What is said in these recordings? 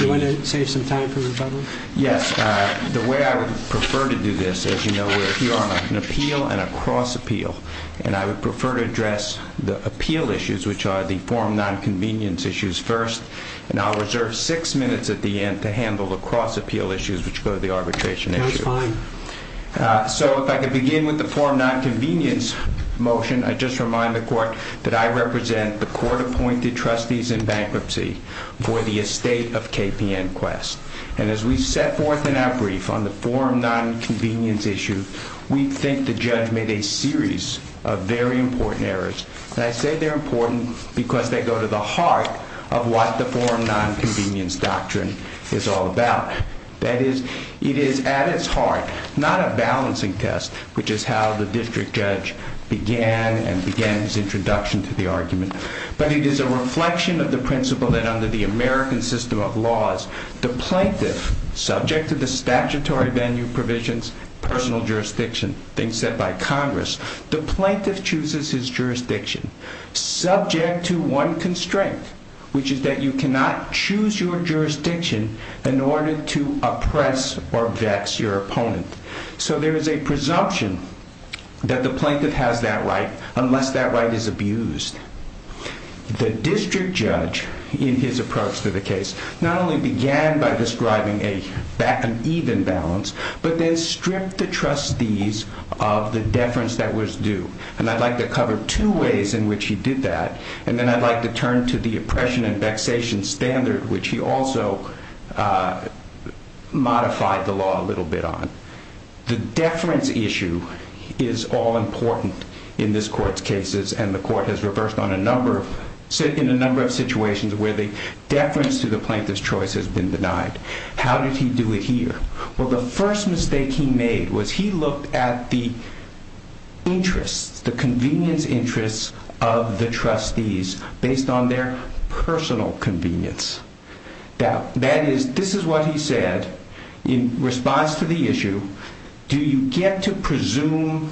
Do you want to save some time for rebuttal? Yes. The way I would prefer to do this, as you know, we're here on an appeal and a cross appeal, and I would prefer to address the appeal issues, which are the form non-convenience issues first, and I'll reserve six minutes at the end to handle the cross appeal issues, which go to the arbitration. So if I could begin with the form non-convenience motion, I just remind the court that I represent the court appointed trustees in bankruptcy for the estate of KPN Quest. And as we set forth in our brief on the form non-convenience issue, we think the judge made a series of very important errors. And I say they're important because they go to the heart of what the form non-convenience doctrine is all about. That is, it is at its heart, not a balancing test, which is how the district judge began and began his introduction to the argument, but it is a reflection of the principle that under the American system of laws, the plaintiff, subject to the statutory venue provisions, personal jurisdiction, things set by Congress, the plaintiff chooses his jurisdiction subject to one constraint, which is that you cannot choose your jurisdiction in order to oppress or vex your opponent. So there is a presumption that the plaintiff has that right, unless that right is abused. The district judge in his approach to the case, not only began by describing an even balance, but then stripped the trustees of the deference that was due. And I'd like to cover two ways in which he did that. And then I'd like to turn to the oppression and vexation standard, which he also modified the law a little bit on. The deference issue is all important in this court's cases and the court has reversed on a number of, in a number of situations where the deference to the plaintiff's choice has been denied. How did he do it here? Well, the first mistake he made was he looked at the interests, the convenience interests of the trustees based on their personal convenience. Now that is, this is what he said in response to the issue. Do you get to presume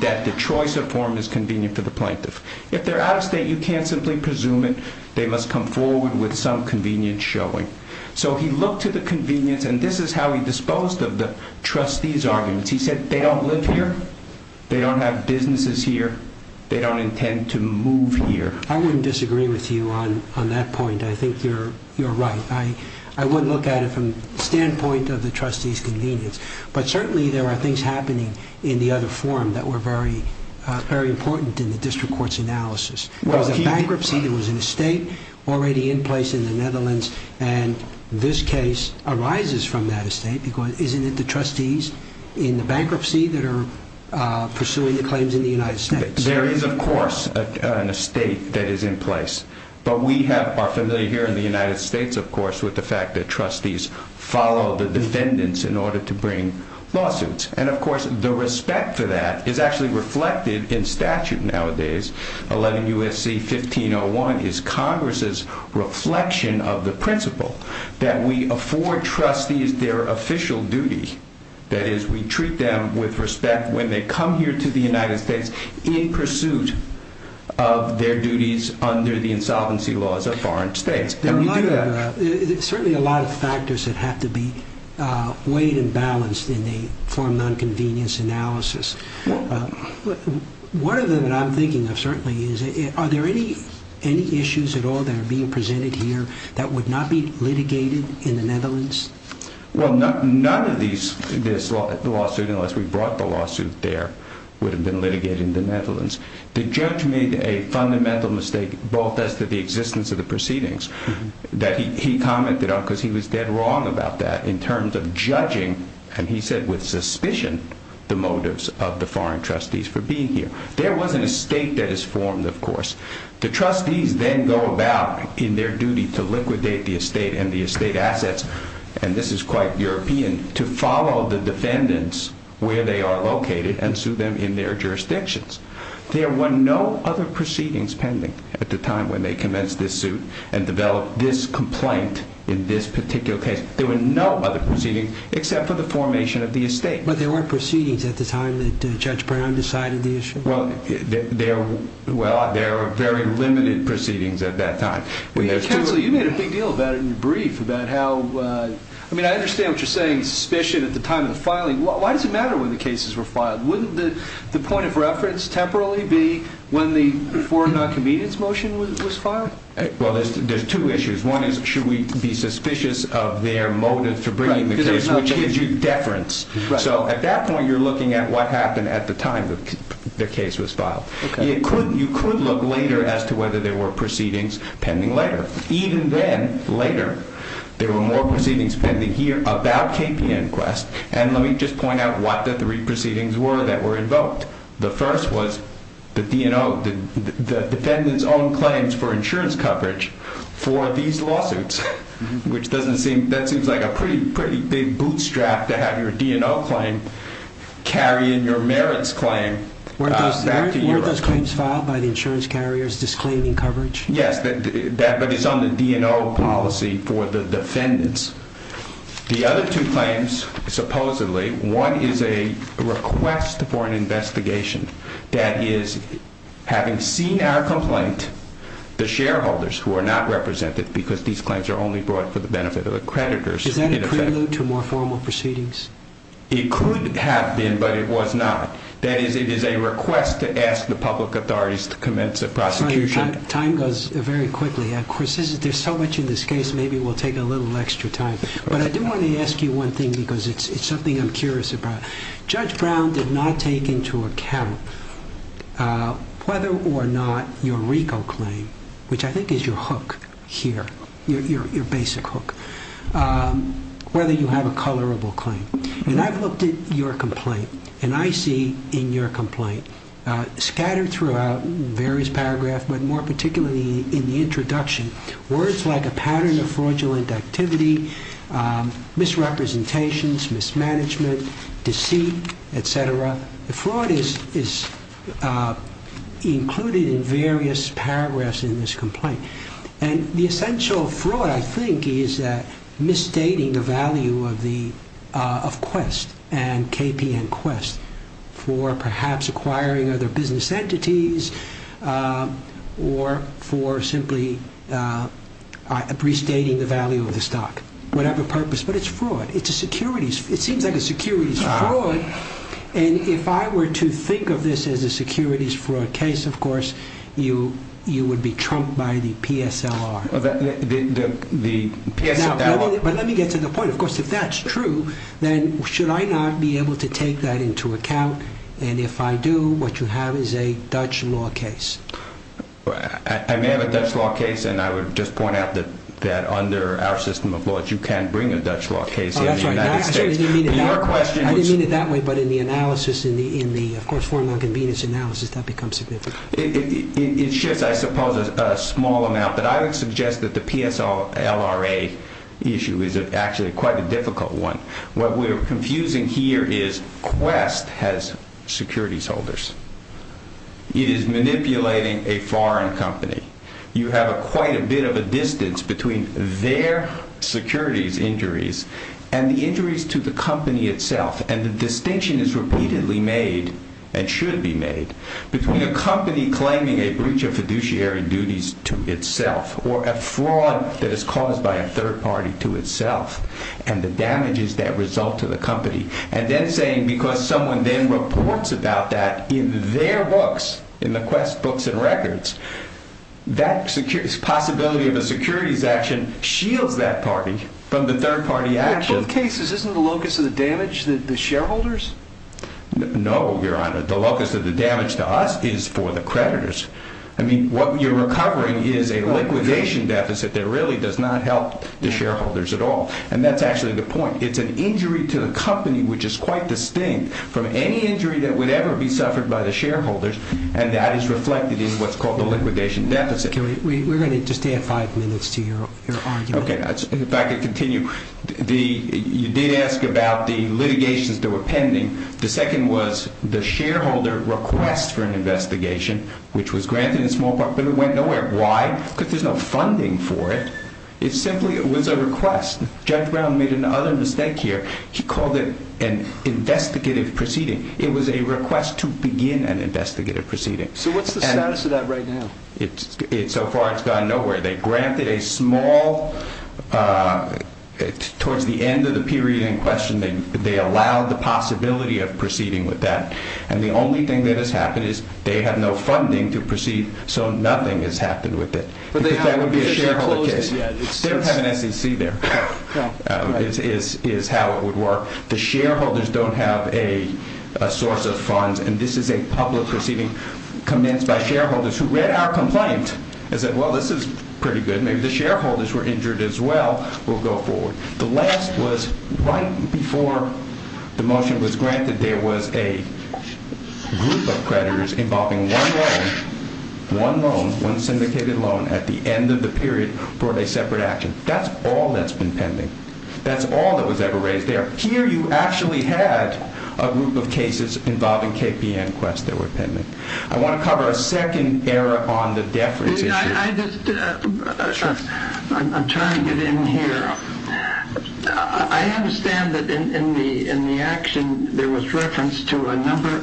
that the choice of form is convenient for the plaintiff? If they're out of state, you can't simply presume it. They must come forward with some convenience showing. So he looked to the convenience and this is how he disposed of the trustees arguments. He said, they don't live here. They don't have businesses here. They don't intend to move here. I wouldn't disagree with you on, on that point. I think you're, you're right. I wouldn't look at it from the standpoint of the trustees convenience, but certainly there are things happening in the other forum that were very, very important in the district court's analysis. There was a bankruptcy, there was an estate already in place in the Netherlands and this case arises from that estate because isn't it the trustees in the bankruptcy that are pursuing the claims in the United States? There is of course an estate that is in place, but we have, are familiar here in the United States, of course, with the fact that trustees follow the defendants in order to bring lawsuits. And of course the respect for that is actually reflected in statute nowadays. 11 USC 1501 is Congress's reflection of the principle that we afford trustees their official duty. That is we treat them with respect when they come here to the United States in pursuit of their duties under the insolvency laws of foreign states. There are a lot of, certainly a lot of factors that have to be weighed and balanced in the case from the unconvenience analysis. One of them that I'm thinking of certainly is are there any, any issues at all that are being presented here that would not be litigated in the Netherlands? Well, none of these, this lawsuit unless we brought the lawsuit there would have been litigated in the Netherlands. The judge made a fundamental mistake both as to the existence of the proceedings that he commented on because he was dead wrong about that in terms of judging. And he said with suspicion, the motives of the foreign trustees for being here, there wasn't a state that is formed. Of course, the trustees then go about in their duty to liquidate the estate and the estate assets. And this is quite European to follow the defendants where they are located and sue them in their jurisdictions. There were no other proceedings pending at the time when they commenced this suit and developed this complaint in this particular case. There were no other proceedings except for the formation of the estate. But there were proceedings at the time that Judge Brown decided the issue. Well, there, well, there are very limited proceedings at that time. Counselor, you made a big deal about it in your brief about how, I mean, I understand what you're saying, suspicion at the time of the filing. Why does it matter when the cases were filed? Wouldn't the point of reference temporarily be when the foreign non-convenience motion was filed? Well, there's two issues. One is, should we be suspicious of their motives for bringing the case, which gives you deference. So at that point, you're looking at what happened at the time that the case was filed. You could look later as to whether there were proceedings pending later. Even then, later, there were more proceedings pending here about KPN Quest. And let me just point out what the three proceedings were that were invoked. The first was the defendant's own claims for insurance coverage for these lawsuits, which doesn't seem, that seems like a pretty, pretty big bootstrap to have your DNO claim carry in your merits claim. Weren't those claims filed by the insurance carriers disclaiming coverage? Yes, but it's on the DNO policy for the defendants. The other two claims, supposedly, one is a complaint, the shareholders who are not represented because these claims are only brought for the benefit of accreditors. Is that a prelude to more formal proceedings? It could have been, but it was not. That is, it is a request to ask the public authorities to commence a prosecution. Time goes very quickly. There's so much in this case, maybe we'll take a little extra time. But I do want to ask you one thing because it's something I'm curious about. Judge Brown did not take into account whether or not your RICO claim, which I think is your hook here, your basic hook, whether you have a colorable claim. And I've looked at your complaint and I see in your complaint, scattered throughout various paragraphs, but more particularly in the introduction, words like a pattern of fraudulent activity, misrepresentations, mismanagement, deceit, et cetera. The fraud is included in various paragraphs in this complaint. And the essential fraud, I think, is that misstating the value of the, of Quest and KPN Quest for perhaps acquiring other business entities or for simply restating the value of the stock, whatever purpose, but it's fraud. It's a securities. It seems like a securities fraud. And if I were to think of this as a securities fraud case, of course, you, you would be trumped by the PSLR. The PSLR. But let me get to the point. Of course, if that's true, then should I not be able to take that into account? And if I do, what you have is a Dutch law case. I may have a Dutch law case, and I would just point out that under our system of laws, you can't bring a Dutch law case in the United States. Oh, that's right. I didn't mean it that way. Your question was... I didn't mean it that way, but in the analysis, in the, of course, foreign non-convenience analysis, that becomes significant. It shifts, I suppose, a small amount, but I would suggest that the PSLRA issue is actually quite a difficult one. What we're confusing here is Quest has securities holders. It is manipulating a foreign company. You have a quite a bit of a distance between their securities injuries and the injuries to the company itself. And the distinction is repeatedly made and should be made between a company claiming a breach of fiduciary duties to itself or a fraud that is caused by a third party to itself and the damages that result to the company. And then saying, because someone then reports about that in their books, in the Quest books and records, that security's possibility of a securities action shields that party from the third party action. In both cases, isn't the locus of the damage the shareholders? No, Your Honor. The locus of the damage to us is for the creditors. I mean, what you're recovering is a liquidation deficit that really does not help the shareholders at all. And that's actually the point. It's an injury to the company, which is quite distinct from any injury that would ever be suffered by the shareholders. And that is reflected in what's called the liquidation deficit. We're going to just add five minutes to your argument. Okay. If I could continue. You did ask about the litigations that were pending. The second was the shareholder request for an investigation, which was granted in small part, but it went nowhere. Why? Because there's no funding for it. It simply was a request. Judge Brown made another mistake here. He called it an investigative proceeding. It was a request to begin an investigative proceeding. So what's the status of that right now? So far, it's gone nowhere. They granted a small, towards the end of the period in question, they allowed the possibility of proceeding with that. And the only thing that has happened is they have no funding to proceed. So nothing has happened with it. But that would be a shareholder case. They don't have an SEC there, is how it would work. The shareholders don't have a source of funds. And this is a public proceeding commenced by shareholders who read our complaint and said, well, this is pretty good. Maybe the shareholders were injured as well. We'll go forward. The last was right before the motion was granted, there was a group of creditors involving one loan, one loan, one syndicated loan at the end of the period for a separate action. That's all that's been pending. That's all that was ever raised there. Here, you actually had a group of cases involving KPN requests that were pending. I want to cover a second error on the deference issue. I just, I'm trying to get in here. I understand that in the action, there was reference to a number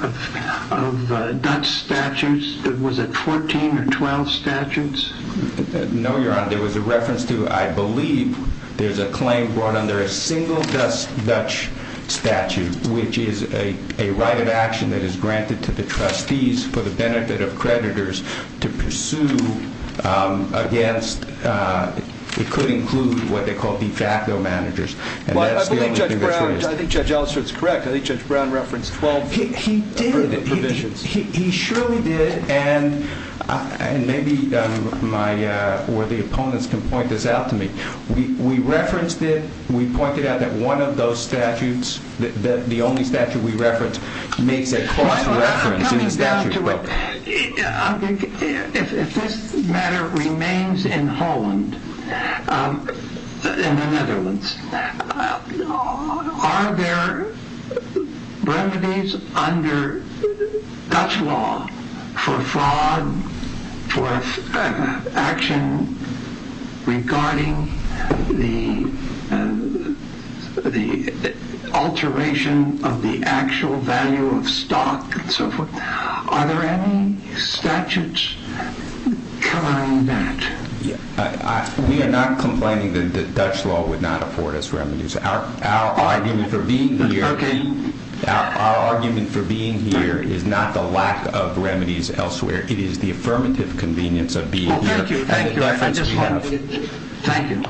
of Dutch statutes. Was it 14 or 12 statutes? No, Your Honor. There was a reference to, I believe, there's a claim brought under a single Dutch statute, which is a right of action that is granted to the trustees for the benefit of creditors to pursue against, it could include what they call de facto managers. I believe Judge Brown, I think Judge Allister is correct. I think Judge Brown referenced 12 provisions. He did. He surely did. And maybe my, or the opponents can point this out to me. We referenced it. We pointed out that one of those statutes, the only statute we referenced, makes a cross reference. I'm coming down to it. If this matter remains in Holland, in the Netherlands, are there remedies under Dutch law for fraud, for action regarding the alteration of the actual value of stock and so forth? Are there any statutes denying that? We are not complaining that Dutch law would not afford us remedies. Our argument for being here is not the lack of remedies elsewhere. It is the affirmative convenience of being here. Thank you. Thank you. I just wanted to, thank you.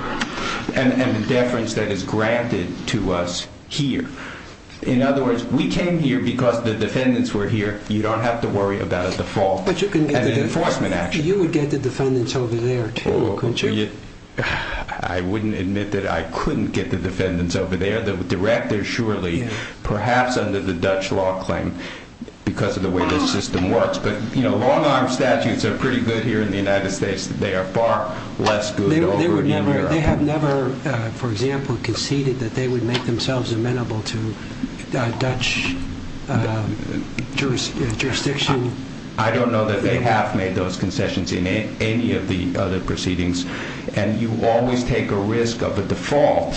And the deference that is granted to us here. In other words, we came here because the defendants were here. You don't have to worry about a default and an enforcement action. You would get the defendants over there too, wouldn't you? I wouldn't admit that I couldn't get the defendants over there. The director surely, perhaps under the Dutch law claim, because of the way this system works. But you know, long arm statutes are pretty good here in the United States. They are far less good over in Iraq. They have never, for example, conceded that they would make themselves amenable to Dutch jurisdiction. I don't know that they have made those concessions in any of the other proceedings. And you always take a risk of a default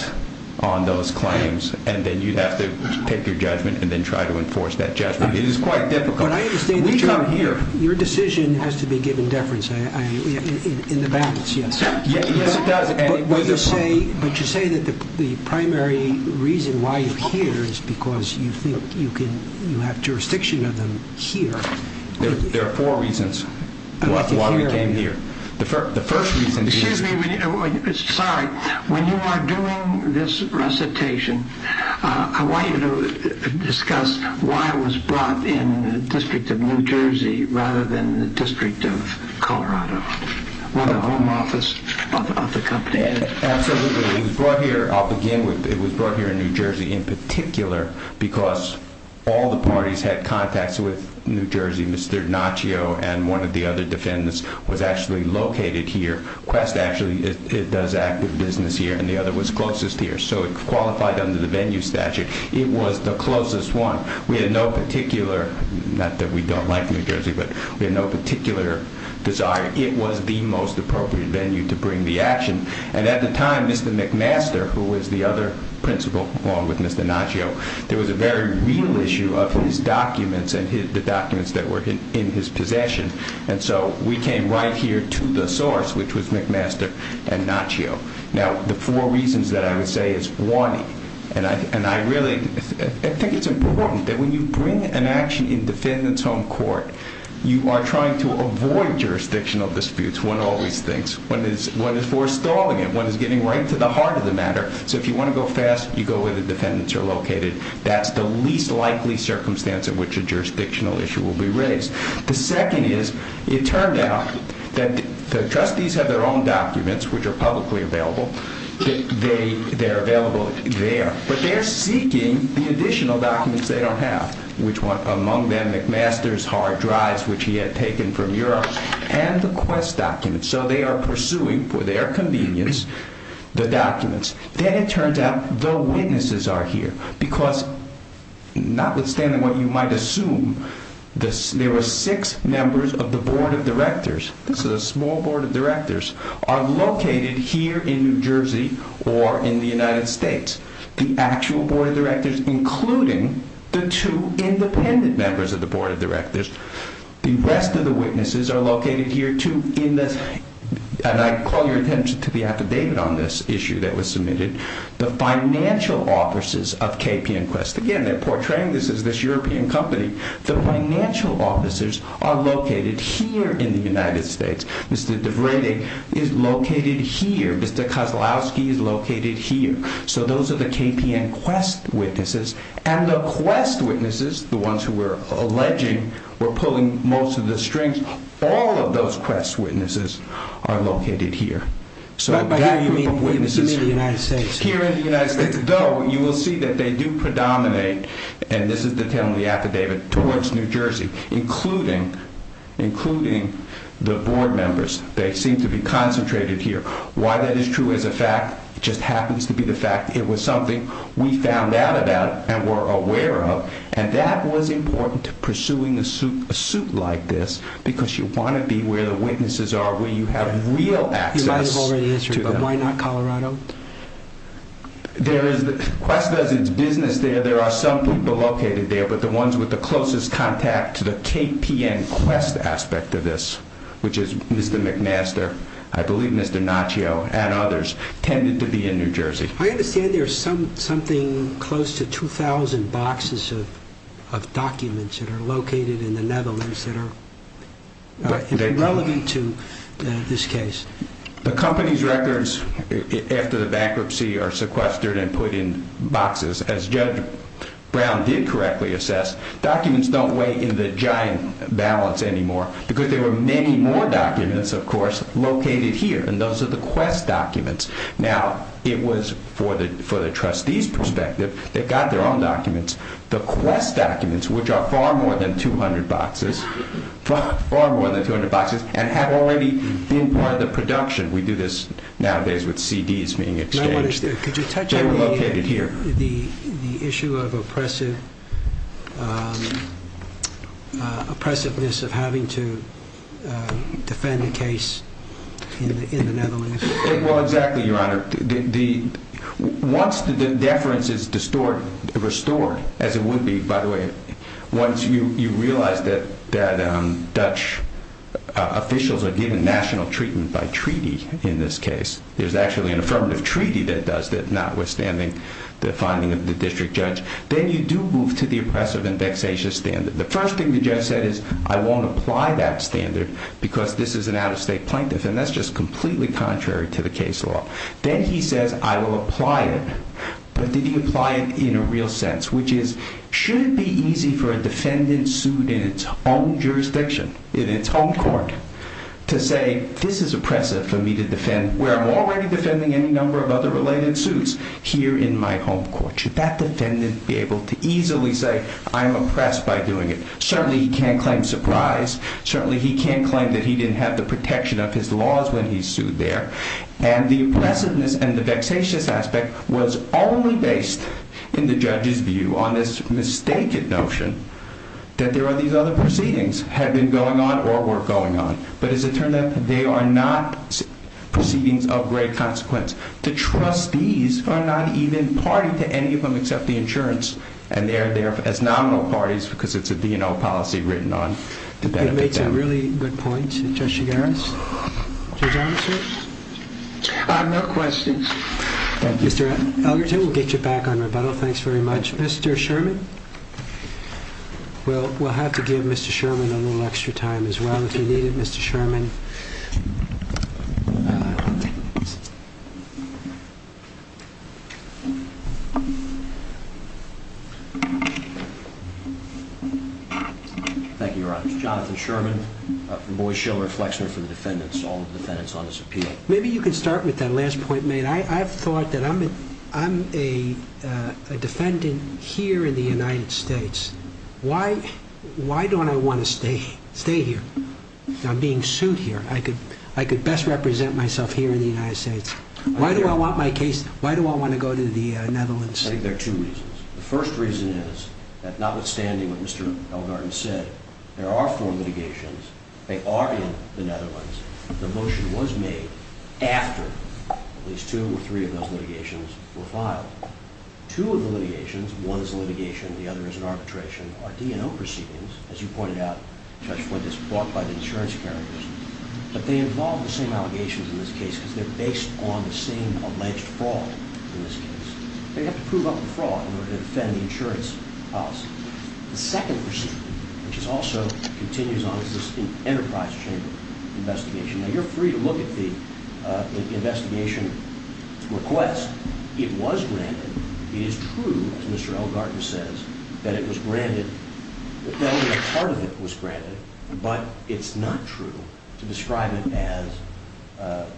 on those claims. And then you'd have to take your judgment and then try to enforce that judgment. It is quite difficult. But I understand that your decision has to be given deference in the balance. Yes, it does. But you say that the primary reason why you are here is because you think you have jurisdiction of them here. There are four reasons why we came here. The first reason is... It was brought here in New Jersey in particular because all the parties had contacts with New Jersey. Mr. Naccio and one of the other defendants was actually located here. Quest actually does active business here and the other was closest here. So it qualified under the venue statute. It was the closest one. We had no particular desire. It was the most appropriate venue to bring the action. And at the time, Mr. McMaster, who was the other principal along with Mr. Naccio, there was a very real issue of his documents and the documents that were in his possession. And so we came right here to the source, which was McMaster and Naccio. Now, the four reasons that I would say is one, and I think it's important that when you bring an action in defendant's home court, you are trying to avoid jurisdictional disputes, one always thinks. One is forestalling it. One is getting right to the heart of the matter. So if you want to go fast, you go where the defendants are located. That's the least likely circumstance in which a jurisdictional issue will be raised. The second is it turned out that the trustees have their own documents, which are publicly available. They they're available there, but they're seeking the additional documents they don't have, which one among them McMaster's hard drives, which he had taken from Europe and the quest documents. So they are pursuing for their convenience, the documents. Then it turns out the witnesses are here because notwithstanding what you might assume, there were six members of the board of directors. This is a small board of directors are located here in New Jersey or in the United States, the actual board of directors, including the two independent members of the board of directors. The rest of the witnesses are located here too in this. And I call your attention to the affidavit on this issue that was submitted, the financial offices of KP and quest. Again, they're portraying this as this European company. The financial offices are located here in the United States. Mr. is located here. Mr. is located here. So those are the KP and quest witnesses and the quest witnesses, the ones who were alleging we're pulling most of the strings. All of those quests, witnesses are located here. So here in the United States, though, you will see that they do predominate. And this is the 10 on the affidavit towards New Jersey, including, including the board members. They seem to be concentrated here. Why that is true as a fact, just happens to be the fact it was something we found out about and we're aware of. And that was important to pursuing a suit, a suit like this, because you want to be where the witnesses are, where you have real access to Colorado. There is the quest does its business there. There are some people located there, but the ones with the closest contact to the KP and quest aspect of this, which is Mr. McMaster, I believe Mr. Naccio and others tended to be in New Jersey. I understand there's some, something close to 2000 boxes of, of documents that are located in the Netherlands that are relevant to this case. The company's records after the bankruptcy are sequestered and put in boxes as judge Brown did correctly assess documents. Don't weigh in the giant balance anymore because there were many more documents of course, located here. And those are the quest documents. Now it was for the, for the trustees perspective, they got their own documents, the quest documents, which are far more than 200 boxes, far more than 200 boxes and have already been part of the production. We do this nowadays with CDs being exchanged. Could you touch on the, the, the issue of oppressive oppressiveness of having to defend the case in the Netherlands? Well, exactly. Your honor, the, once the deference is distort, restore as it would be, by the way, once you, you realize that, that, um, Dutch officials are given national treatment by treaty, in this case, there's actually an affirmative treaty that does that notwithstanding the finding of the district judge, then you do move to the oppressive and vexatious standard. The first thing that Jeff said is I won't apply that standard because this is an out of state plaintiff. And that's just completely contrary to the case law. Then he says, I will apply it. But did he apply it in a real sense, which is, should it be easy for a defendant sued in its own jurisdiction, in its own court to say, this is oppressive for me to defend where I'm already defending any number of other related suits here in my home court. Should that defendant be able to easily say I'm oppressed by doing it? Certainly he can't claim surprise. Certainly he can't claim that he didn't have the protection of his laws when he sued there. And the oppressiveness and the vexatious aspect was only based in the judge's view on this mistaken notion that there are these other proceedings had been going on or were going on. But as it turned out, they are not proceedings of great consequence. The trustees are not even party to any of them except the insurance. And they are there as nominal parties because it's a DNL policy written on. It makes a really good point, Judge Shigaris. Judge Armisen? No questions. Thank you. Mr. Algerton, we'll get you back on rebuttal. Thanks very much. Mr. Sherman, we'll have to give Mr. Sherman a little extra time as well if you need it, Mr. Sherman. Thank you, Your Honor. Jonathan Sherman from Boies Shiller, a flexner for the defendants, all the defendants on this appeal. Maybe you can start with that last point, mate. I've thought that I'm a defendant here in the United States. Why don't I want to stay here? I'm being sued here. I could best represent myself here in the United States. Why do I want my case? Why do I want to go to the Netherlands? I think there are two reasons. The first reason is that notwithstanding what Mr. Algerton said, there are four litigations. They are in the Netherlands. The motion was made after at least two or three of those litigations were filed. Two of the litigations, one is a litigation, the other is an arbitration, are DNO proceedings, as you pointed out, Judge Fortas, brought by the insurance carriers. But they involve the same allegations in this case because they're based on the same alleged fraud in this case. They have to prove up the fraud in order to defend the insurance policy. The second proceeding, which is also continues on, is this enterprise chamber investigation. Now, you're free to look at the investigation request. It was granted. It is true, as Mr. Algerton says, that it was granted, that only a part of it was granted. But it's not true to describe it as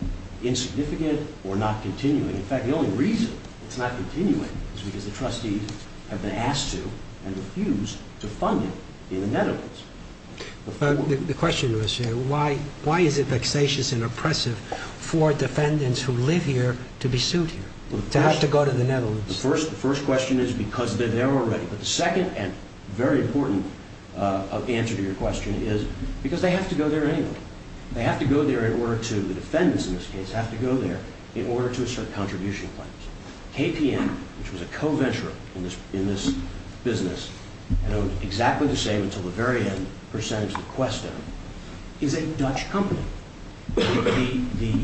insignificant or not continuing. In fact, the only reason it's not continuing is because the trustees have been asked to and refused to fund it in the Netherlands. The question was, why is it vexatious and oppressive for defendants who live here to be sued here, to have to go to the Netherlands? The first question is because they're there already. But the second and very important answer to your question is because they have to go there anyway. They have to go there in order to, the defendants in this case, have to go there in order to assert contribution claims. KPM, which was a co-venturer in this business, and it was exactly the same until the very end, percentage of Questown, is a Dutch company. The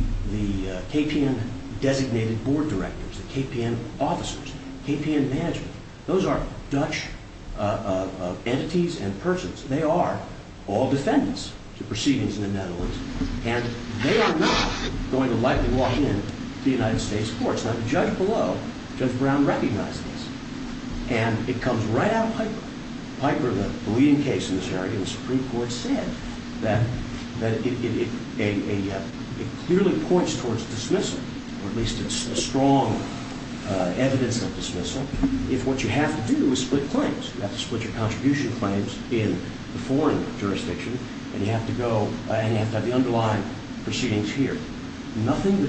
KPM designated board directors, the KPN officers, KPN management, those are Dutch entities and persons. They are all defendants to proceedings in the Netherlands. And they are not going to lightly walk in to the United States courts. Now, the judge below, Judge Brown, recognizes this. And it comes right out of Piper. Piper, the leading case in this area in the Supreme Court, said that it clearly points towards dismissal, or at least a strong evidence of dismissal, if what you have to do is split claims. You have to split your contribution claims in the foreign jurisdiction and you have to go and you have to have the underlying proceedings here. Nothing that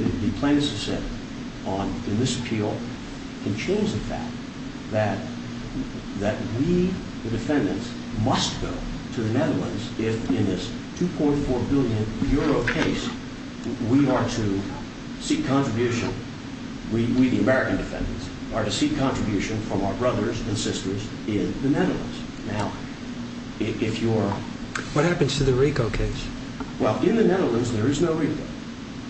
we, the defendants, must go to the Netherlands if in this 2.4 billion euro case we are to seek contribution. We, the American defendants, are to seek contribution from our brothers and sisters in the Netherlands. Now, if you're... What happens to the RICO case? Well, in the Netherlands there is no RICO.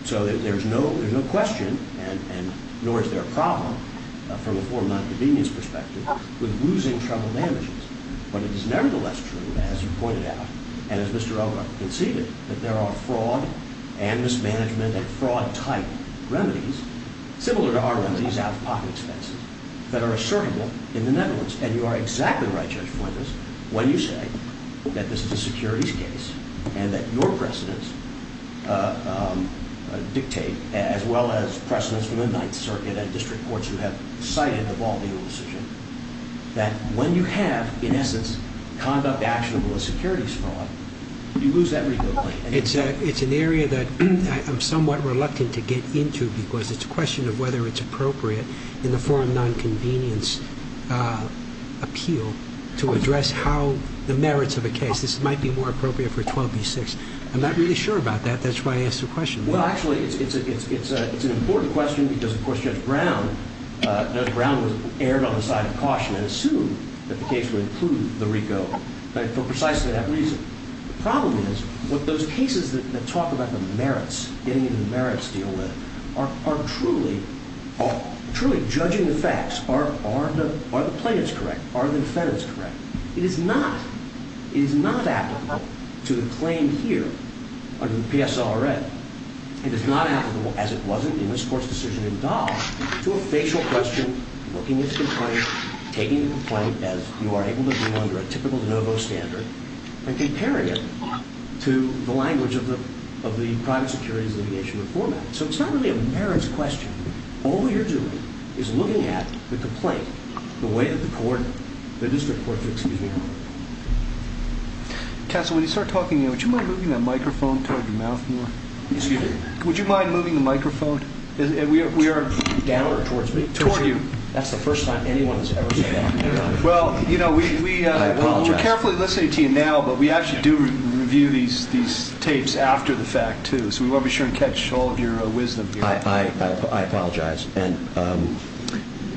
So there's no question, and nor is there a convenience perspective, with losing trouble damages. But it is nevertheless true, as you pointed out, and as Mr. Elgar conceded, that there are fraud and mismanagement and fraud type remedies, similar to our remedies out of pocket expenses, that are assertable in the Netherlands. And you are exactly right, Judge Flinders, when you say that this is a securities case and that your precedents dictate, as well as precedents from the Ninth Avenue decision, that when you have, in essence, conduct actionable as securities fraud, you lose that RICO claim. It's an area that I'm somewhat reluctant to get into because it's a question of whether it's appropriate in the forum non-convenience appeal to address how the merits of a case this might be more appropriate for 12b6. I'm not really sure about that. That's why I asked the question. Well, actually, it's an important question because, of course, Judge Brown, Judge Brown was aired on the side of caution and assumed that the case would improve the RICO for precisely that reason. The problem is what those cases that talk about the merits, getting into the merits to deal with, are truly judging the facts. Are the plaintiffs correct? Are the defendants correct? It is not applicable to the claim here under the PSLRA. It is not applicable, as it wasn't in this Court's decision in Dahl, to a facial question looking at the complaint, taking the complaint as you are able to do under a typical de novo standard and comparing it to the language of the private securities litigation reform act. So it's not really a merits question. All you're doing is looking at the complaint the way that the court, the district court, excuse me. Counsel, when you start talking, would you mind moving that microphone toward your mouth more? Excuse me. Would you mind moving the microphone? Down or towards me? Toward you. That's the first time anyone has ever said that. Well, you know, we're carefully listening to you now, but we actually do review these tapes after the fact, too. So we want to be sure and catch all of your wisdom here. I apologize. And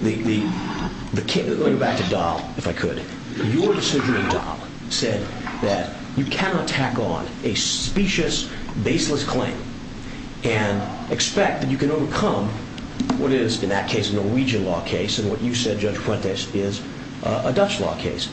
the case, going back to Dahl, if I could, your decision in Dahl said that you cannot tack on a specious, baseless claim and expect that you can overcome what is, in that case, a Norwegian law case and what you said, Judge Fuentes, is a Dutch law case.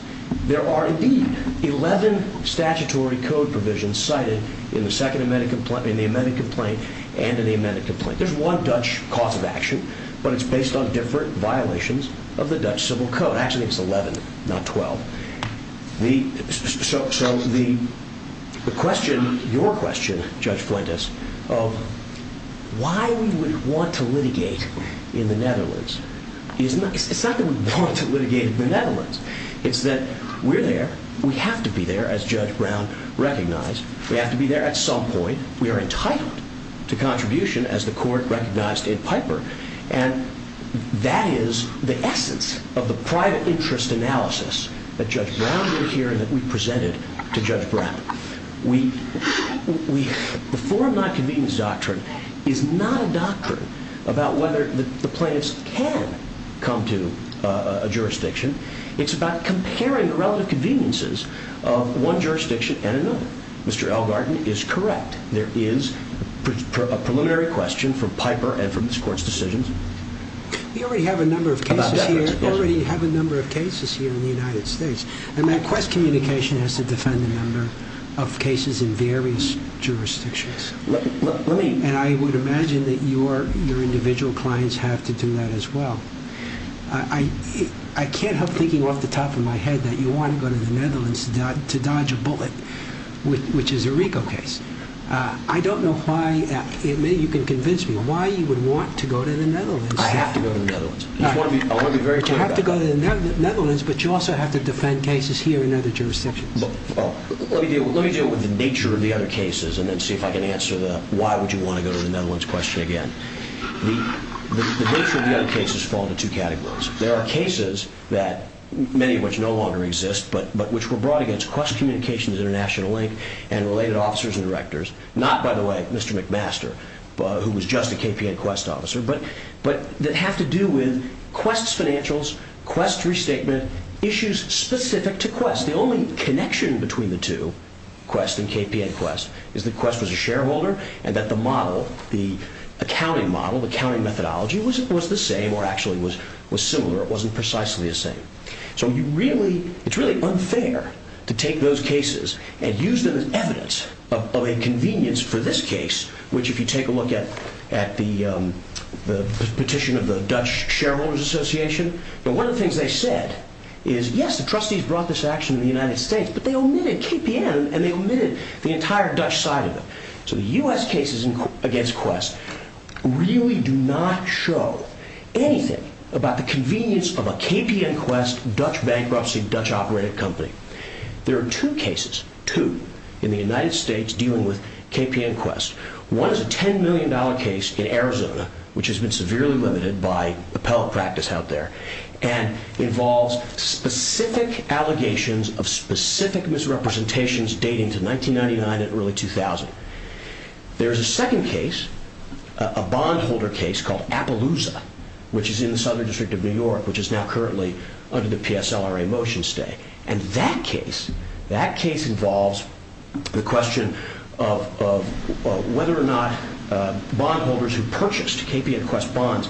There are, indeed, 11 statutory code provisions cited in the amended complaint and in the amended complaint. There's one Dutch cause of action, but it's based on different violations of the Dutch civil code. Actually, it's 11, not 12. So the question, your question, Judge Fuentes, of why we would want to litigate in the Netherlands, it's not that we want to litigate in the Netherlands. It's that we're there. We have to be there, as Judge Brown recognized. We have to be there at some point. We are entitled to contribution, as the court recognized in Piper. And that is the essence of the private interest analysis that Judge Brown did here and that we presented to Judge Brown. The forum not convenience doctrine is not a doctrine about whether the plaintiffs can come to a jurisdiction. It's about comparing the relative conveniences of one jurisdiction and another. Mr. Elgarten is correct. There is a preliminary question from Piper and from this court's decisions. We already have a number of cases here in the United States. And my quest communication has to defend a number of cases in various jurisdictions. And I would imagine that your individual clients have to do that as well. I can't help thinking off the top of my head that you want to go to the Netherlands to dodge a bullet, which is a RICO case. I don't know why, if you can convince me, why you would want to go to the Netherlands. I have to go to the Netherlands. All right. I want to be very clear about that. But you have to go to the Netherlands, but you also have to defend cases here in other jurisdictions. Well, let me deal with the nature of the other cases and then see if I can answer the why would you want to go to the Netherlands question again. The nature of the other cases fall into two categories. There are cases that, many of which no longer exist, but which were brought against Quest Communications International Inc. and related officers and directors, not, by the way, Mr. McMaster, who was just a KPN Quest officer, but that have to do with Quest's financials, Quest's restatement, issues specific to Quest. The only connection between the two, Quest and KPN Quest, is that Quest was a shareholder and that the model, the accounting model, the accounting methodology, was the same or actually was similar. It wasn't precisely the same. So you really, it's really unfair to take those cases and use them as evidence of a convenience for this case, which if you take a look at the petition of the Dutch Shareholders Association, but one of the things they said is, yes, the trustees brought this action in the United States, but they omitted KPN and they omitted the entire Dutch side of it. So the U.S. cases against Quest really do not show anything about the convenience of KPN Quest, Dutch bankruptcy, Dutch-operated company. There are two cases, two, in the United States dealing with KPN Quest. One is a $10 million case in Arizona, which has been severely limited by appellate practice out there, and involves specific allegations of specific misrepresentations dating to 1999 and early 2000. There is a second case, a bondholder case called Appaloosa, which is in the Southern California currently under the PSLRA motion stay. And that case, that case involves the question of whether or not bondholders who purchased KPN Quest bonds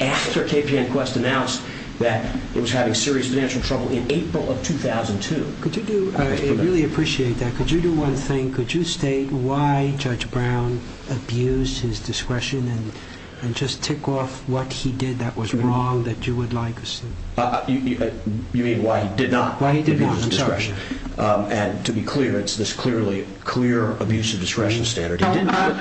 after KPN Quest announced that it was having serious financial trouble in April of 2002. Could you do, I really appreciate that. Could you do one thing? Could you state why Judge Brown abused his discretion and just tick off what he did that was wrong that you would like us to? You mean why he did not abuse his discretion? Why he did not, I'm sorry. And to be clear, it's this clearly clear abuse of discretion standard. Now,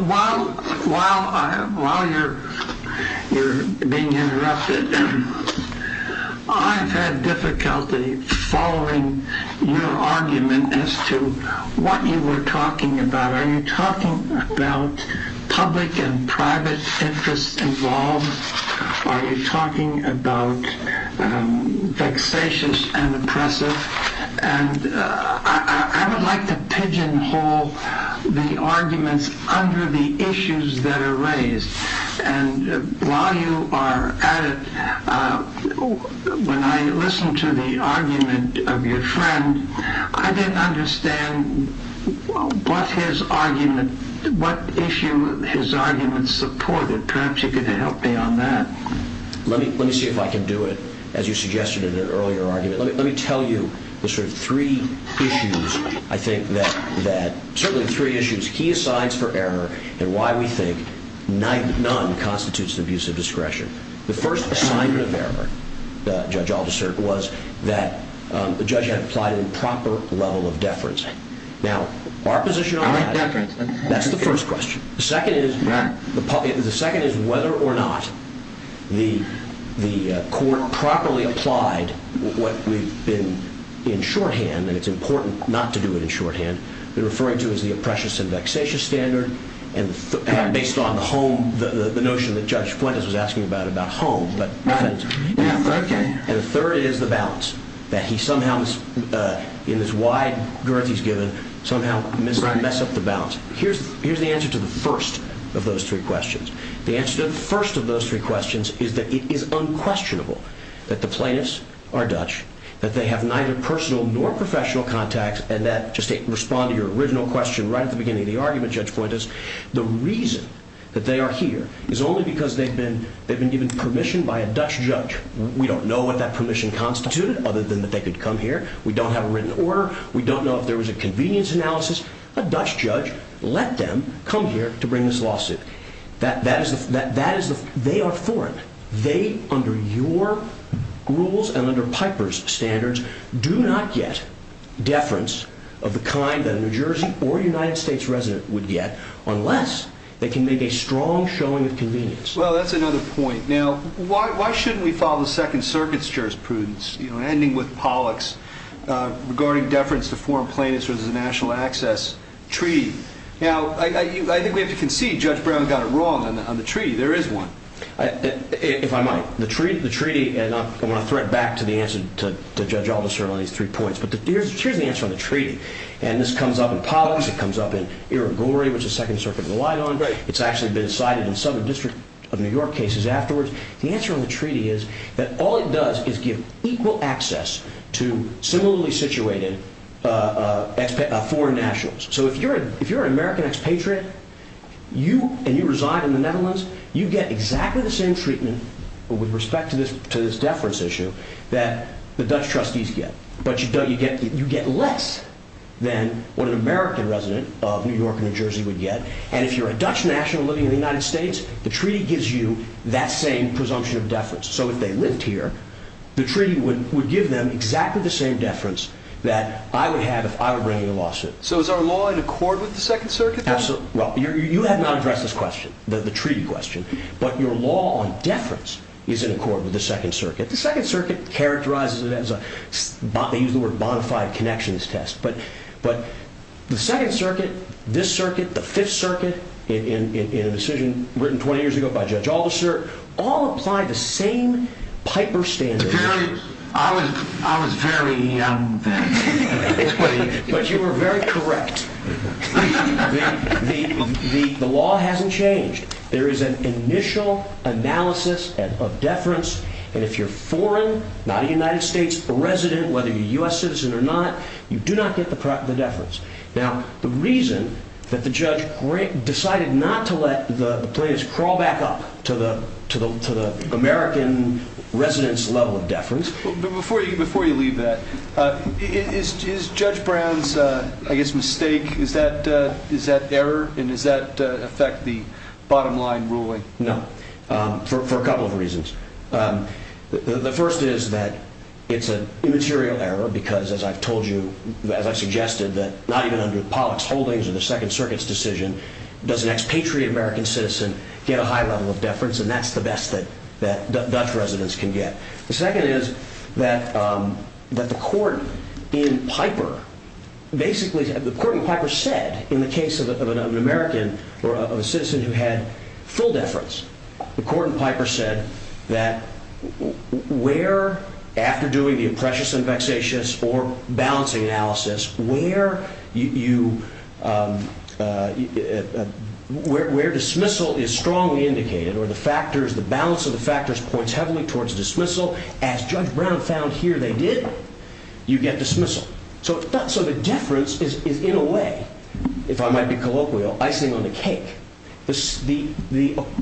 while you're being interrupted, I've had difficulty following your argument as to what you were talking about. Are you talking about public and private interests involved? Are you talking about vexatious and oppressive? And I would like to pigeonhole the arguments under the issues that are raised. And while you are at it, when I listened to the argument of your friend, I didn't understand what his argument, what issue his argument supported. Perhaps you could help me on that. Let me see if I can do it, as you suggested in an earlier argument. Let me tell you the sort of three issues I think that, certainly the three issues. He assigns for error and why we think none constitutes an abuse of discretion. The first assignment of error, Judge Aldister, was that the judge had applied a proper level of deference. Now, our position on that, that's the first question. The second is whether or not the court properly applied what we've been in shorthand. And it's important not to do it in shorthand. We're referring to as the oppressive and vexatious standard. And based on the notion that Judge Fuentes was asking about, about home. And the third is the balance, that he somehow, in this wide girth he's given, somehow messed up the balance. Here's the answer to the first of those three questions. The answer to the first of those three questions is that it is unquestionable that the plaintiffs are Dutch, that they have neither personal nor professional contacts and that, just to respond to your original question right at the beginning of the argument, Judge Fuentes, the reason that they are here is only because they've been given permission by a Dutch judge. We don't know what that permission constituted, other than that they could come here. We don't have a written order. We don't know if there was a convenience analysis. A Dutch judge let them come here to bring this lawsuit. That is, they are foreign. They, under your rules and under Piper's standards, do not get deference of the kind that a New Jersey or United States resident would get unless they can make a strong showing of convenience. Well, that's another point. Now, why shouldn't we follow the Second Circuit's jurisprudence, ending with Pollock's, regarding deference to foreign plaintiffs versus a national access treaty? Now, I think we have to concede Judge Brown got it wrong on the treaty. There is one. If I might. The treaty, and I want to thread back to the answer to Judge Aldister on these three points, but here's the answer on the treaty. And this comes up in Pollock's. It comes up in Irigori, which the Second Circuit relied on. It's actually been cited in Southern District of New York cases afterwards. The answer on the treaty is that all it does is give equal access to similarly situated foreign nationals. So if you're an American expatriate and you reside in the Netherlands, you get exactly the same treatment with respect to this deference issue that the Dutch trustees get. But you get less than what an American resident of New York or New Jersey would get. And if you're a Dutch national living in the United States, the treaty gives you that same presumption of deference. So if they lived here, the treaty would give them exactly the same deference that I would have if I were bringing a lawsuit. So is our law in accord with the Second Circuit? Well, you have not addressed this question, the treaty question. But your law on deference is in accord with the Second Circuit. The Second Circuit characterizes it as a, they use the word bona fide connections test. But the Second Circuit, this circuit, the Fifth Circuit, in a decision written 20 years ago by Judge Alderson, all apply the same Piper standard. I was very young then. But you were very correct. The law hasn't changed. There is an initial analysis of deference. And if you're foreign, not a United States resident, whether you're a U.S. citizen or not, you do not get the deference. Now, the reason that the judge decided not to let the plaintiffs crawl back up to the American residence level of deference. Before you leave that, is Judge Brown's, I guess, mistake, is that error? And does that affect the bottom line ruling? No, for a couple of reasons. The first is that it's an immaterial error. Because as I've told you, as I've suggested, that not even under Pollock's holdings or the Second Circuit's decision, does an expatriate American citizen get a high level of deference? And that's the best that Dutch residents can get. The second is that the court in Piper basically, the court in Piper said, in the case of an American or of a citizen who had full deference, the court in Piper said that where, after doing the imprecious and vexatious or balancing analysis, where dismissal is strongly indicated or the balance of the factors points heavily towards dismissal, as Judge Brown found here they did, you get dismissal. So the deference is, in a way, if I might be colloquial, icing on the cake. I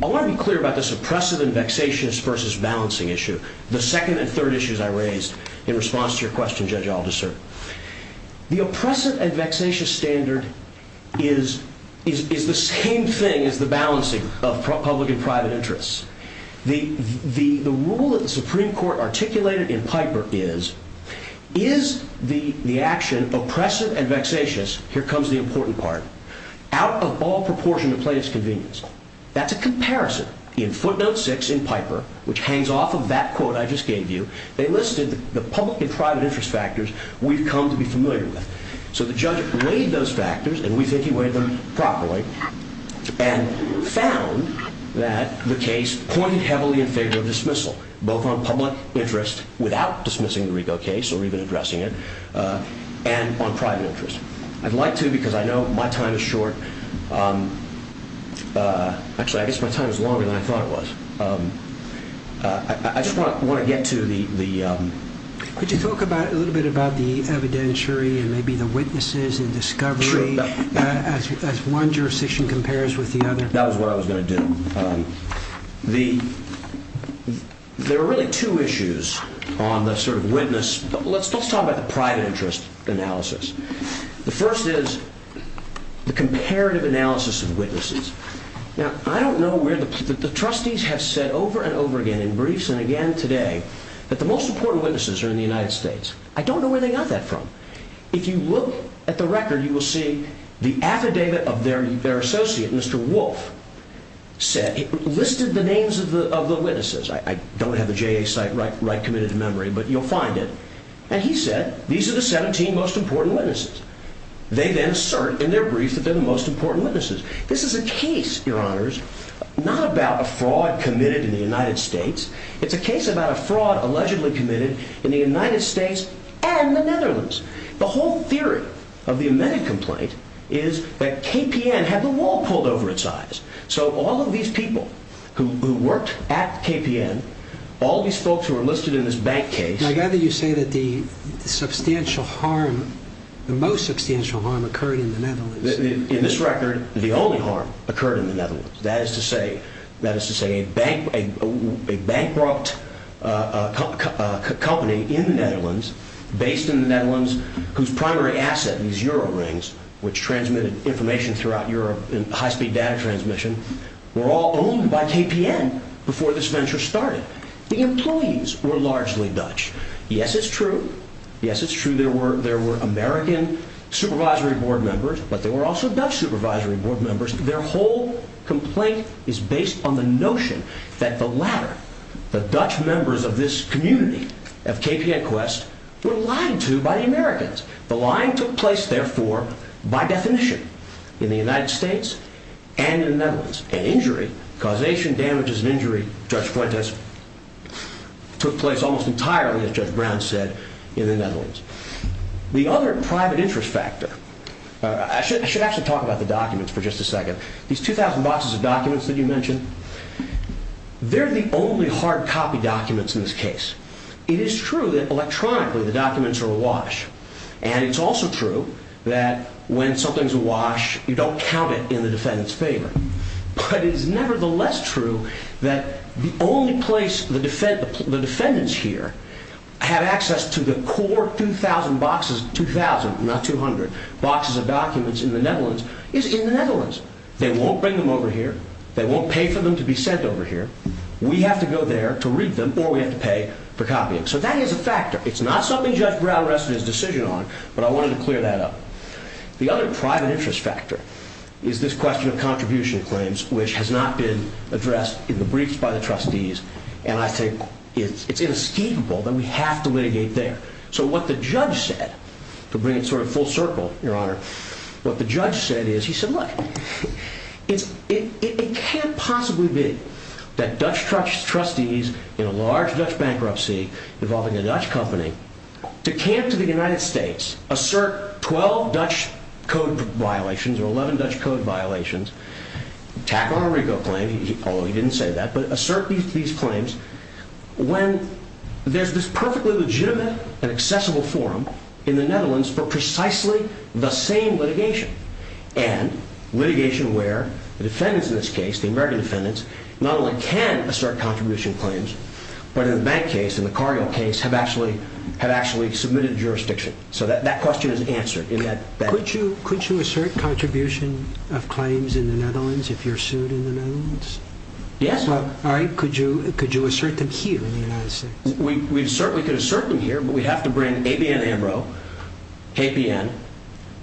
want to be clear about this oppressive and vexatious versus balancing issue, the second and third issues I raised in response to your question, Judge Aldiser. The oppressive and vexatious standard is the same thing as the balancing of public and private interests. The rule that the Supreme Court articulated in Piper is, is the action oppressive and vexatious, here comes the important part, out of all proportion to plaintiff's convenience. That's a comparison. In footnote six in Piper, which hangs off of that quote I just gave you, they listed the public and private interest factors we've come to be familiar with. So the judge weighed those factors, and we think he weighed them properly, and found that the case pointed heavily in favor of dismissal, both on public interest without dismissing the Rigo case or even addressing it, and on private interest. I'd like to, because I know my time is short. Actually, I guess my time is longer than I thought it was. I just want to get to the- Could you talk a little bit about the evidentiary and maybe the witnesses and discovery, as one jurisdiction compares with the other? That was what I was going to do. There are really two issues on the sort of witness. Let's talk about the private interest analysis. The first is the comparative analysis of witnesses. Now, I don't know where the- The trustees have said over and over again, in briefs and again today, that the most important witnesses are in the United States. I don't know where they got that from. If you look at the record, you will see the affidavit of their associate, Mr. Wolf, said it listed the names of the witnesses. I don't have the JA site right committed to memory, but you'll find it. He said, these are the 17 most important witnesses. They then assert in their brief that they're the most important witnesses. This is a case, your honors, not about a fraud committed in the United States. It's a case about a fraud allegedly committed in the United States and the Netherlands. The whole theory of the amended complaint is that KPN had the wall pulled over its eyes. All of these people who worked at KPN, all these folks who are listed in this bank case- I gather you say that the substantial harm, the most substantial harm occurred in the Netherlands. In this record, the only harm occurred in the Netherlands. That is to say, a bankrupt company in the Netherlands, based in the Netherlands, whose primary asset, these Euro rings, which transmitted information throughout Europe in high-speed data transmission, were all owned by KPN before this venture started. The employees were largely Dutch. Yes, it's true. Yes, it's true. There were American supervisory board members, but there were also Dutch supervisory board members. Their whole complaint is based on the notion that the latter, the Dutch members of this community of KPN Quest, were lied to by the Americans. The lying took place, therefore, by definition in the United States and in the Netherlands. And injury, causation, damages, and injury, Judge Fuentes, took place almost entirely, as Judge Brown said, in the Netherlands. The other private interest factor- I should actually talk about the documents for just a second. These 2,000 boxes of documents that you mentioned, they're the only hard copy documents in this case. It is true that electronically the documents are awash, and it's also true that when something's awash, you don't count it in the defendant's favor. But it is nevertheless true that the only place the defendants here have access to the core 2,000 boxes- 2,000, not 200- boxes of documents in the Netherlands is in the Netherlands. They won't bring them over here. They won't pay for them to be sent over here. We have to go there to read them, or we have to pay for copying. So that is a factor. It's not something Judge Brown rested his decision on, but I wanted to clear that up. The other private interest factor is this question of contribution claims, which has not been addressed in the briefs by the trustees, and I think it's inescapable that we have to litigate there. So what the judge said- to bring it sort of full circle, Your Honor- what the judge said is, he said, look, it can't possibly be that Dutch trustees in a large Dutch bankruptcy involving a Dutch company to camp to the United States, assert 12 Dutch code violations or 11 Dutch code violations, tack on a RICO claim- although he didn't say that- but assert these claims when there's this perfectly legitimate and accessible forum in the Netherlands for precisely the same litigation, and litigation where the defendants in this case, the American defendants, not only can assert contribution claims, but in the bank case, in the Cargill case, have actually submitted jurisdiction. So that question is answered. Could you assert contribution of claims in the Netherlands if you're sued in the Netherlands? Yes. Could you assert them here in the United States? We certainly could assert them here, but we have to bring ABN Ambro, KPN,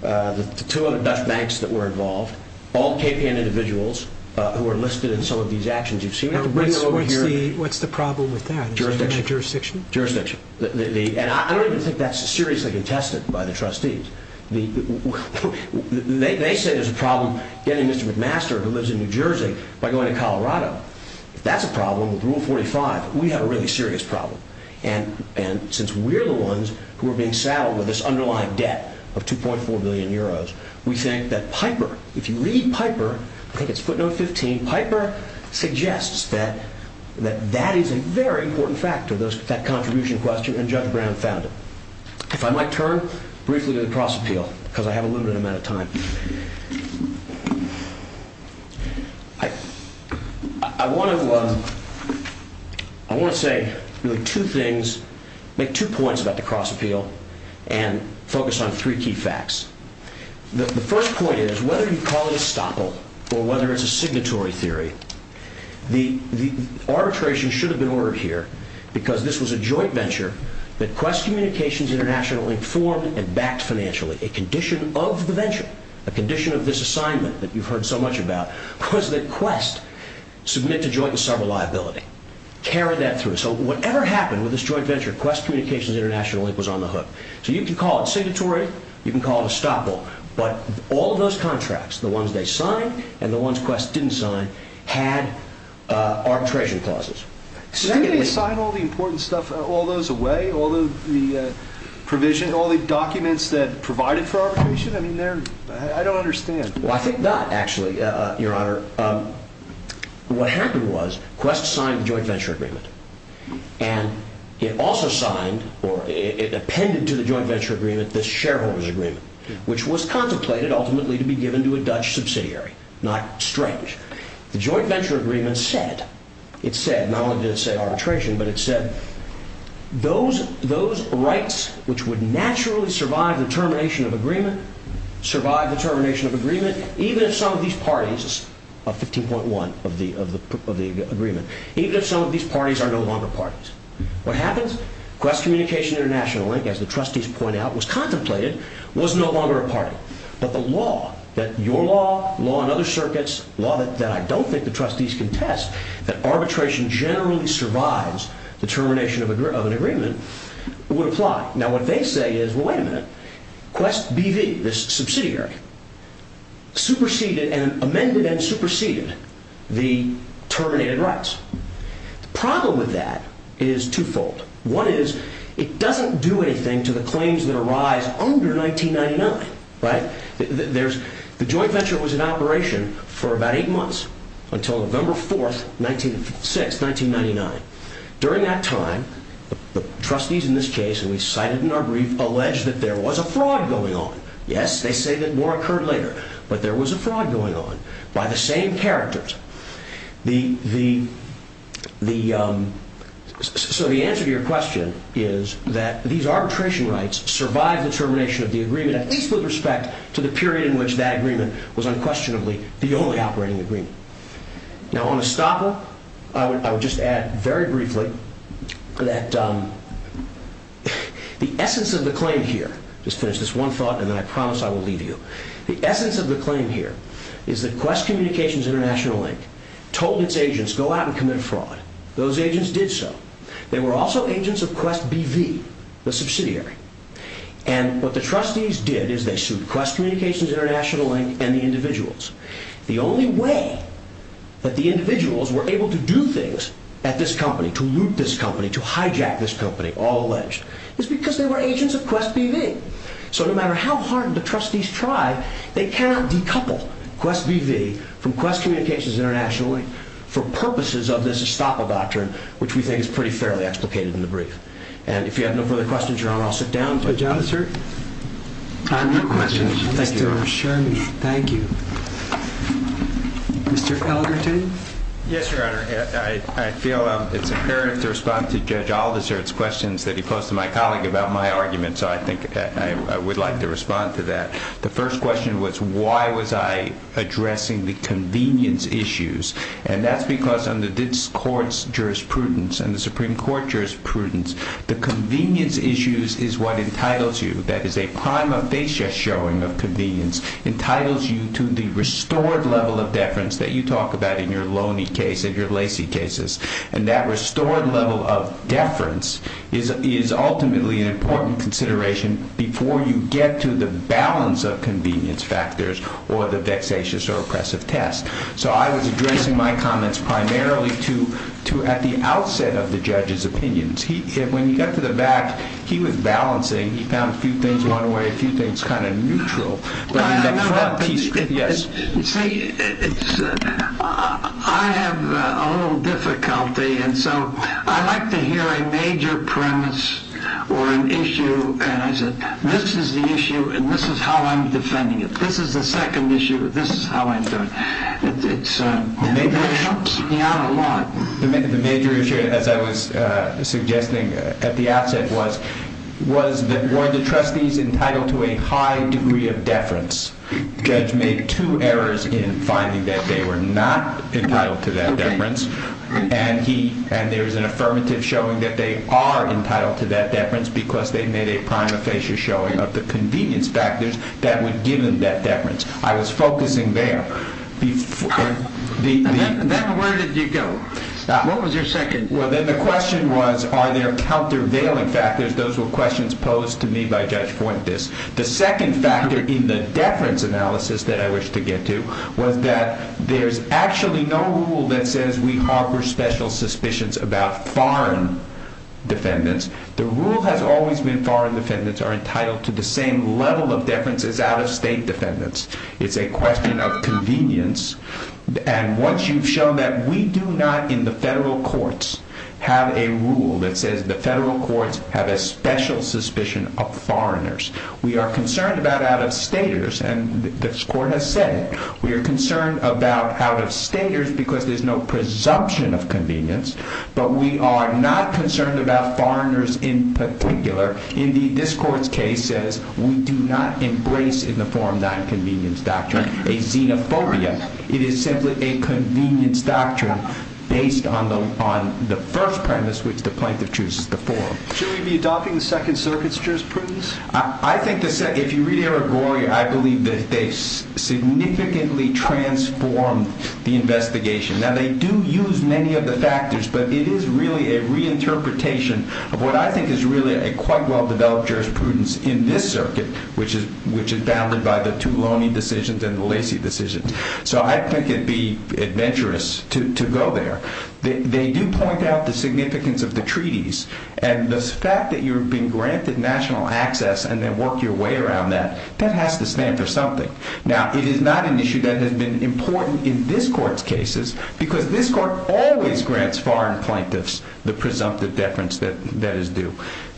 the two other Dutch banks that were involved, all KPN individuals who are listed in some of these actions. You see, we have to bring them over here- What's the problem with that? Jurisdiction. Jurisdiction. And I don't even think that's seriously contested by the trustees. They say there's a problem getting Mr. McMaster, who lives in New Jersey, by going to Colorado. If that's a problem with Rule 45, we have a really serious problem. And since we're the ones who are being saddled with this underlying debt of 2.4 billion euros, we think that Piper, if you read Piper, I think it's footnote 15, Piper suggests that that is a very important factor, that contribution question, and Judge Brown found it. If I might turn briefly to the cross-appeal, because I have a limited amount of time. I want to say really two things, make two points about the cross-appeal, and focus on three key facts. The first point is, whether you call it a stopple or whether it's a signatory theory, the arbitration should have been ordered here, because this was a joint venture that Quest Communications International informed and backed financially. A condition of the venture, a condition of this assignment that you've heard so much about, was that Quest submit to joint and sever liability, carry that through. So whatever happened with this joint venture, Quest Communications International was on the hook. So you can call it signatory, you can call it a stopple, but all of those contracts, the ones they signed and the ones Quest didn't sign, had arbitration clauses. Did they sign all the important stuff, all those away, all the provision, all the documents that provided for arbitration? I don't understand. I think not, actually, Your Honor. What happened was, Quest signed the joint venture agreement, and it also signed, or it appended to the joint venture agreement, the shareholders agreement, which was contemplated ultimately to be given to a Dutch subsidiary. Not strange. The joint venture agreement said, it said, not only did it say arbitration, but it said those rights, which would naturally survive the termination of agreement, survive the termination of agreement, even if some of these parties, 15.1 of the agreement, even if some of these parties What happens? Quest Communications International, as the trustees point out, was contemplated, was no longer a party. But the law, that your law, law in other circuits, law that I don't think the trustees contest, that arbitration generally survives the termination of an agreement, would apply. Now, what they say is, well, wait a minute. Quest BV, this subsidiary, superseded, amended and superseded the terminated rights. The problem with that is twofold. One is, it doesn't do anything to the claims that arise under 1999. Right? There's, the joint venture was in operation for about eight months until November 4th, 1956, 1999. During that time, the trustees in this case, and we cite it in our brief, alleged that there was a fraud going on. Yes, they say that more occurred later. But there was a fraud going on by the same characters. The, the, the, so the answer to your question is that these arbitration rights survive the termination of the agreement at least with respect to the period in which that agreement was unquestionably the only operating agreement. Now, on a stopper, I would, I would just add very briefly that, um, the essence of the claim here, just finish this one thought and then I promise I will leave you. The essence of the claim here is that Quest Communications International Inc. told its agents go out and commit a fraud. Those agents did so. They were also agents of Quest BV, the subsidiary. And what the trustees did is they sued Quest Communications International Inc. and the individuals. The only way that the individuals were able to do things at this company, to loot this company, to hijack this company, all alleged, is because they were agents of Quest BV. So no matter how hard the trustees try, they cannot decouple Quest BV from Quest Communications International Inc. for purposes of this estoppel doctrine which we think is pretty fairly explicated in the brief. And if you have no further questions, Your Honor, I'll sit down. Judge Olivert? Thank you, Your Honor. I'd like to assure you. Thank you. Mr. Ellerton? Yes, Your Honor. I feel it's imperative to respond to Judge Olivert's questions that he posed to my colleague about my argument. So I think I would like to respond to that. The first question was why was I addressing the convenience issues? And that's because under this court's jurisprudence and the Supreme Court jurisprudence, the convenience issues is what entitles you that is a prima facie showing of convenience entitles you to the restored level of deference that you talk about in your Loney case and your Lacey cases. And that restored level of deference is ultimately an important consideration before you get to the balance of convenience factors or the vexatious or oppressive test. So I was addressing my comments primarily to at the outset of the judge's testimony. And when he got to the back he was balancing. He found a few things going away and a few things kind of neutral. I have a little difficulty and so I like to hear a major premise or an issue and I said this is the issue and this is how I'm defending it. This is the second issue. This is how I'm doing it. The major issue as I was at the outset was were the trustees entitled to a high degree of deference? The judge made two errors in finding that they were not entitled to that deference and there is an affirmative showing that they are entitled to that deference because they made a prima facie showing of the convenience factors that would give them that deference. I was focusing there. The second factor in the deference analysis that I wish to get to was that there's actually no rule that says we harbor special suspicions about foreign defendants. The rule has always been foreign defendants are entitled to the same level of deference as out-of-state defendants. It's a question of convenience and once you've done that we do not in the federal courts have a rule that says the federal courts have a special suspicion of foreigners. We are concerned about out-of-staters and this court has said it. We are concerned about out-of-staters because there's no presumption of convenience on the first premise which the plaintiff chooses to form. Should we be adopting the second circuit's jurisprudence? I believe they significantly transformed the investigation. Now they do use many of the factors but it is really a reinterpretation of what the second circuit which is founded by the two decisions. So I think it would be adventurous to go there. They do point out the significance of the treaties and the fact that you're being granted national access and then work your way around that, that has to stand for something. Now it is not an issue that has been important in this court's cases because this court always grants foreign plaintiffs the presumptive deference that is due.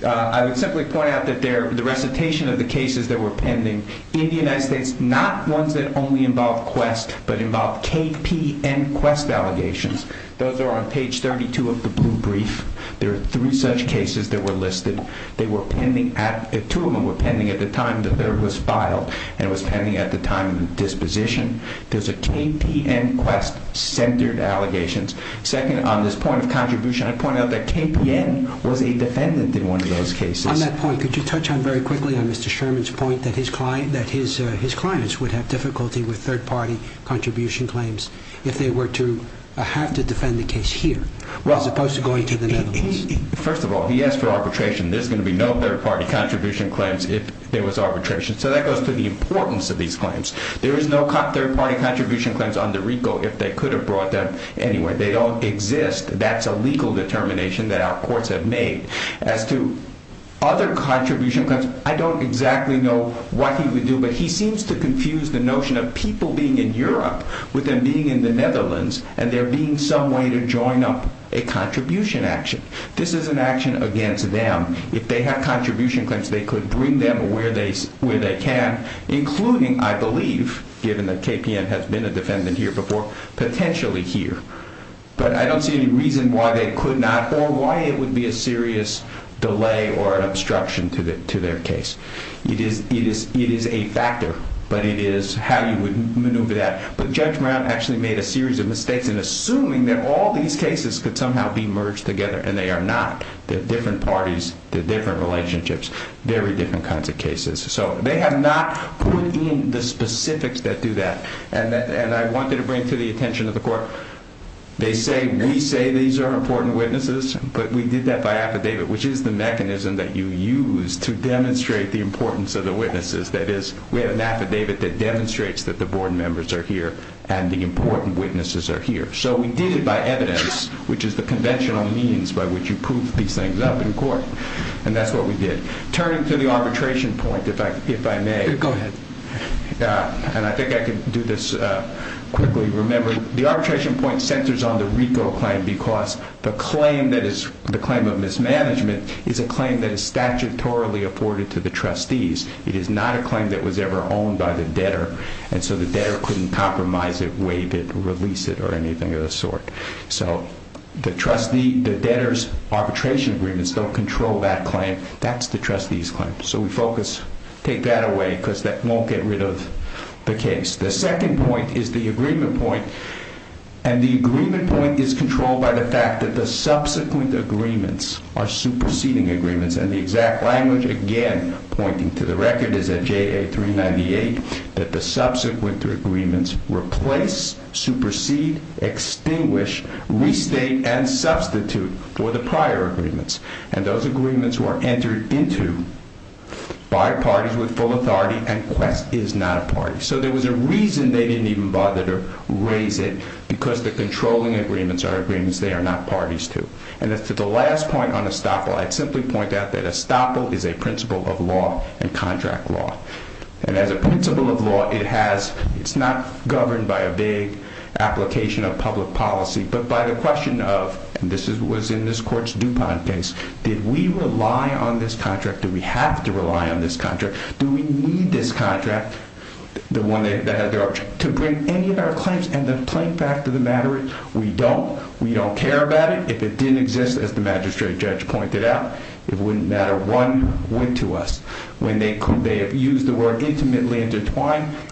I would simply point out that the recitation of the cases that were pending in the United States not ones that only involve quest but involve KPN quest allegations. Those are on page 32 of the blue page. I would simply of the that were pending in the United States not ones that involve quest but involve KPN quest allegations. I would simply point out that KPN pending United quest allegations. I would simply point out that KPN quest allegations are pending in the United States not ones that involve quest allegations. I would simply point out that KPN pending allegations in the United States not ones that involve quest allegations. I would simply point out that KPN pending allegations are pending United involve allegations. I point out that KPN pending allegations are pending in the United States not ones that involve quest allegations. I would simply point out KPN allegations are pending United ones that involve quest allegations. I would simply point out that KPN pending allegations are pending in the United States not that I pending allegations are pending in the United States not ones that involve quest allegations. I would simply point out that KPN pending in the United States not not last thing I would just point out that ESTOPEM is a principle of law and order. When they used the word intimately intertwined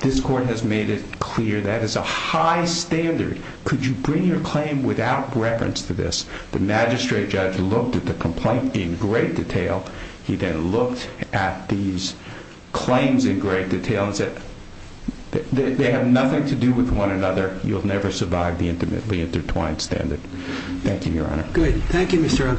this court made it clear that is a high standard. Could you bring your claim without reference to this? The magistrate judge looked at the complaint in great detail. He then looked at these claims in great detail and said they have nothing to do with one another. You'll never survive the intimately intertwined standard. Thank you, your honor. Thank you, your excellency, your excellency. So let's pay your attention to case, this file, the case Thank you.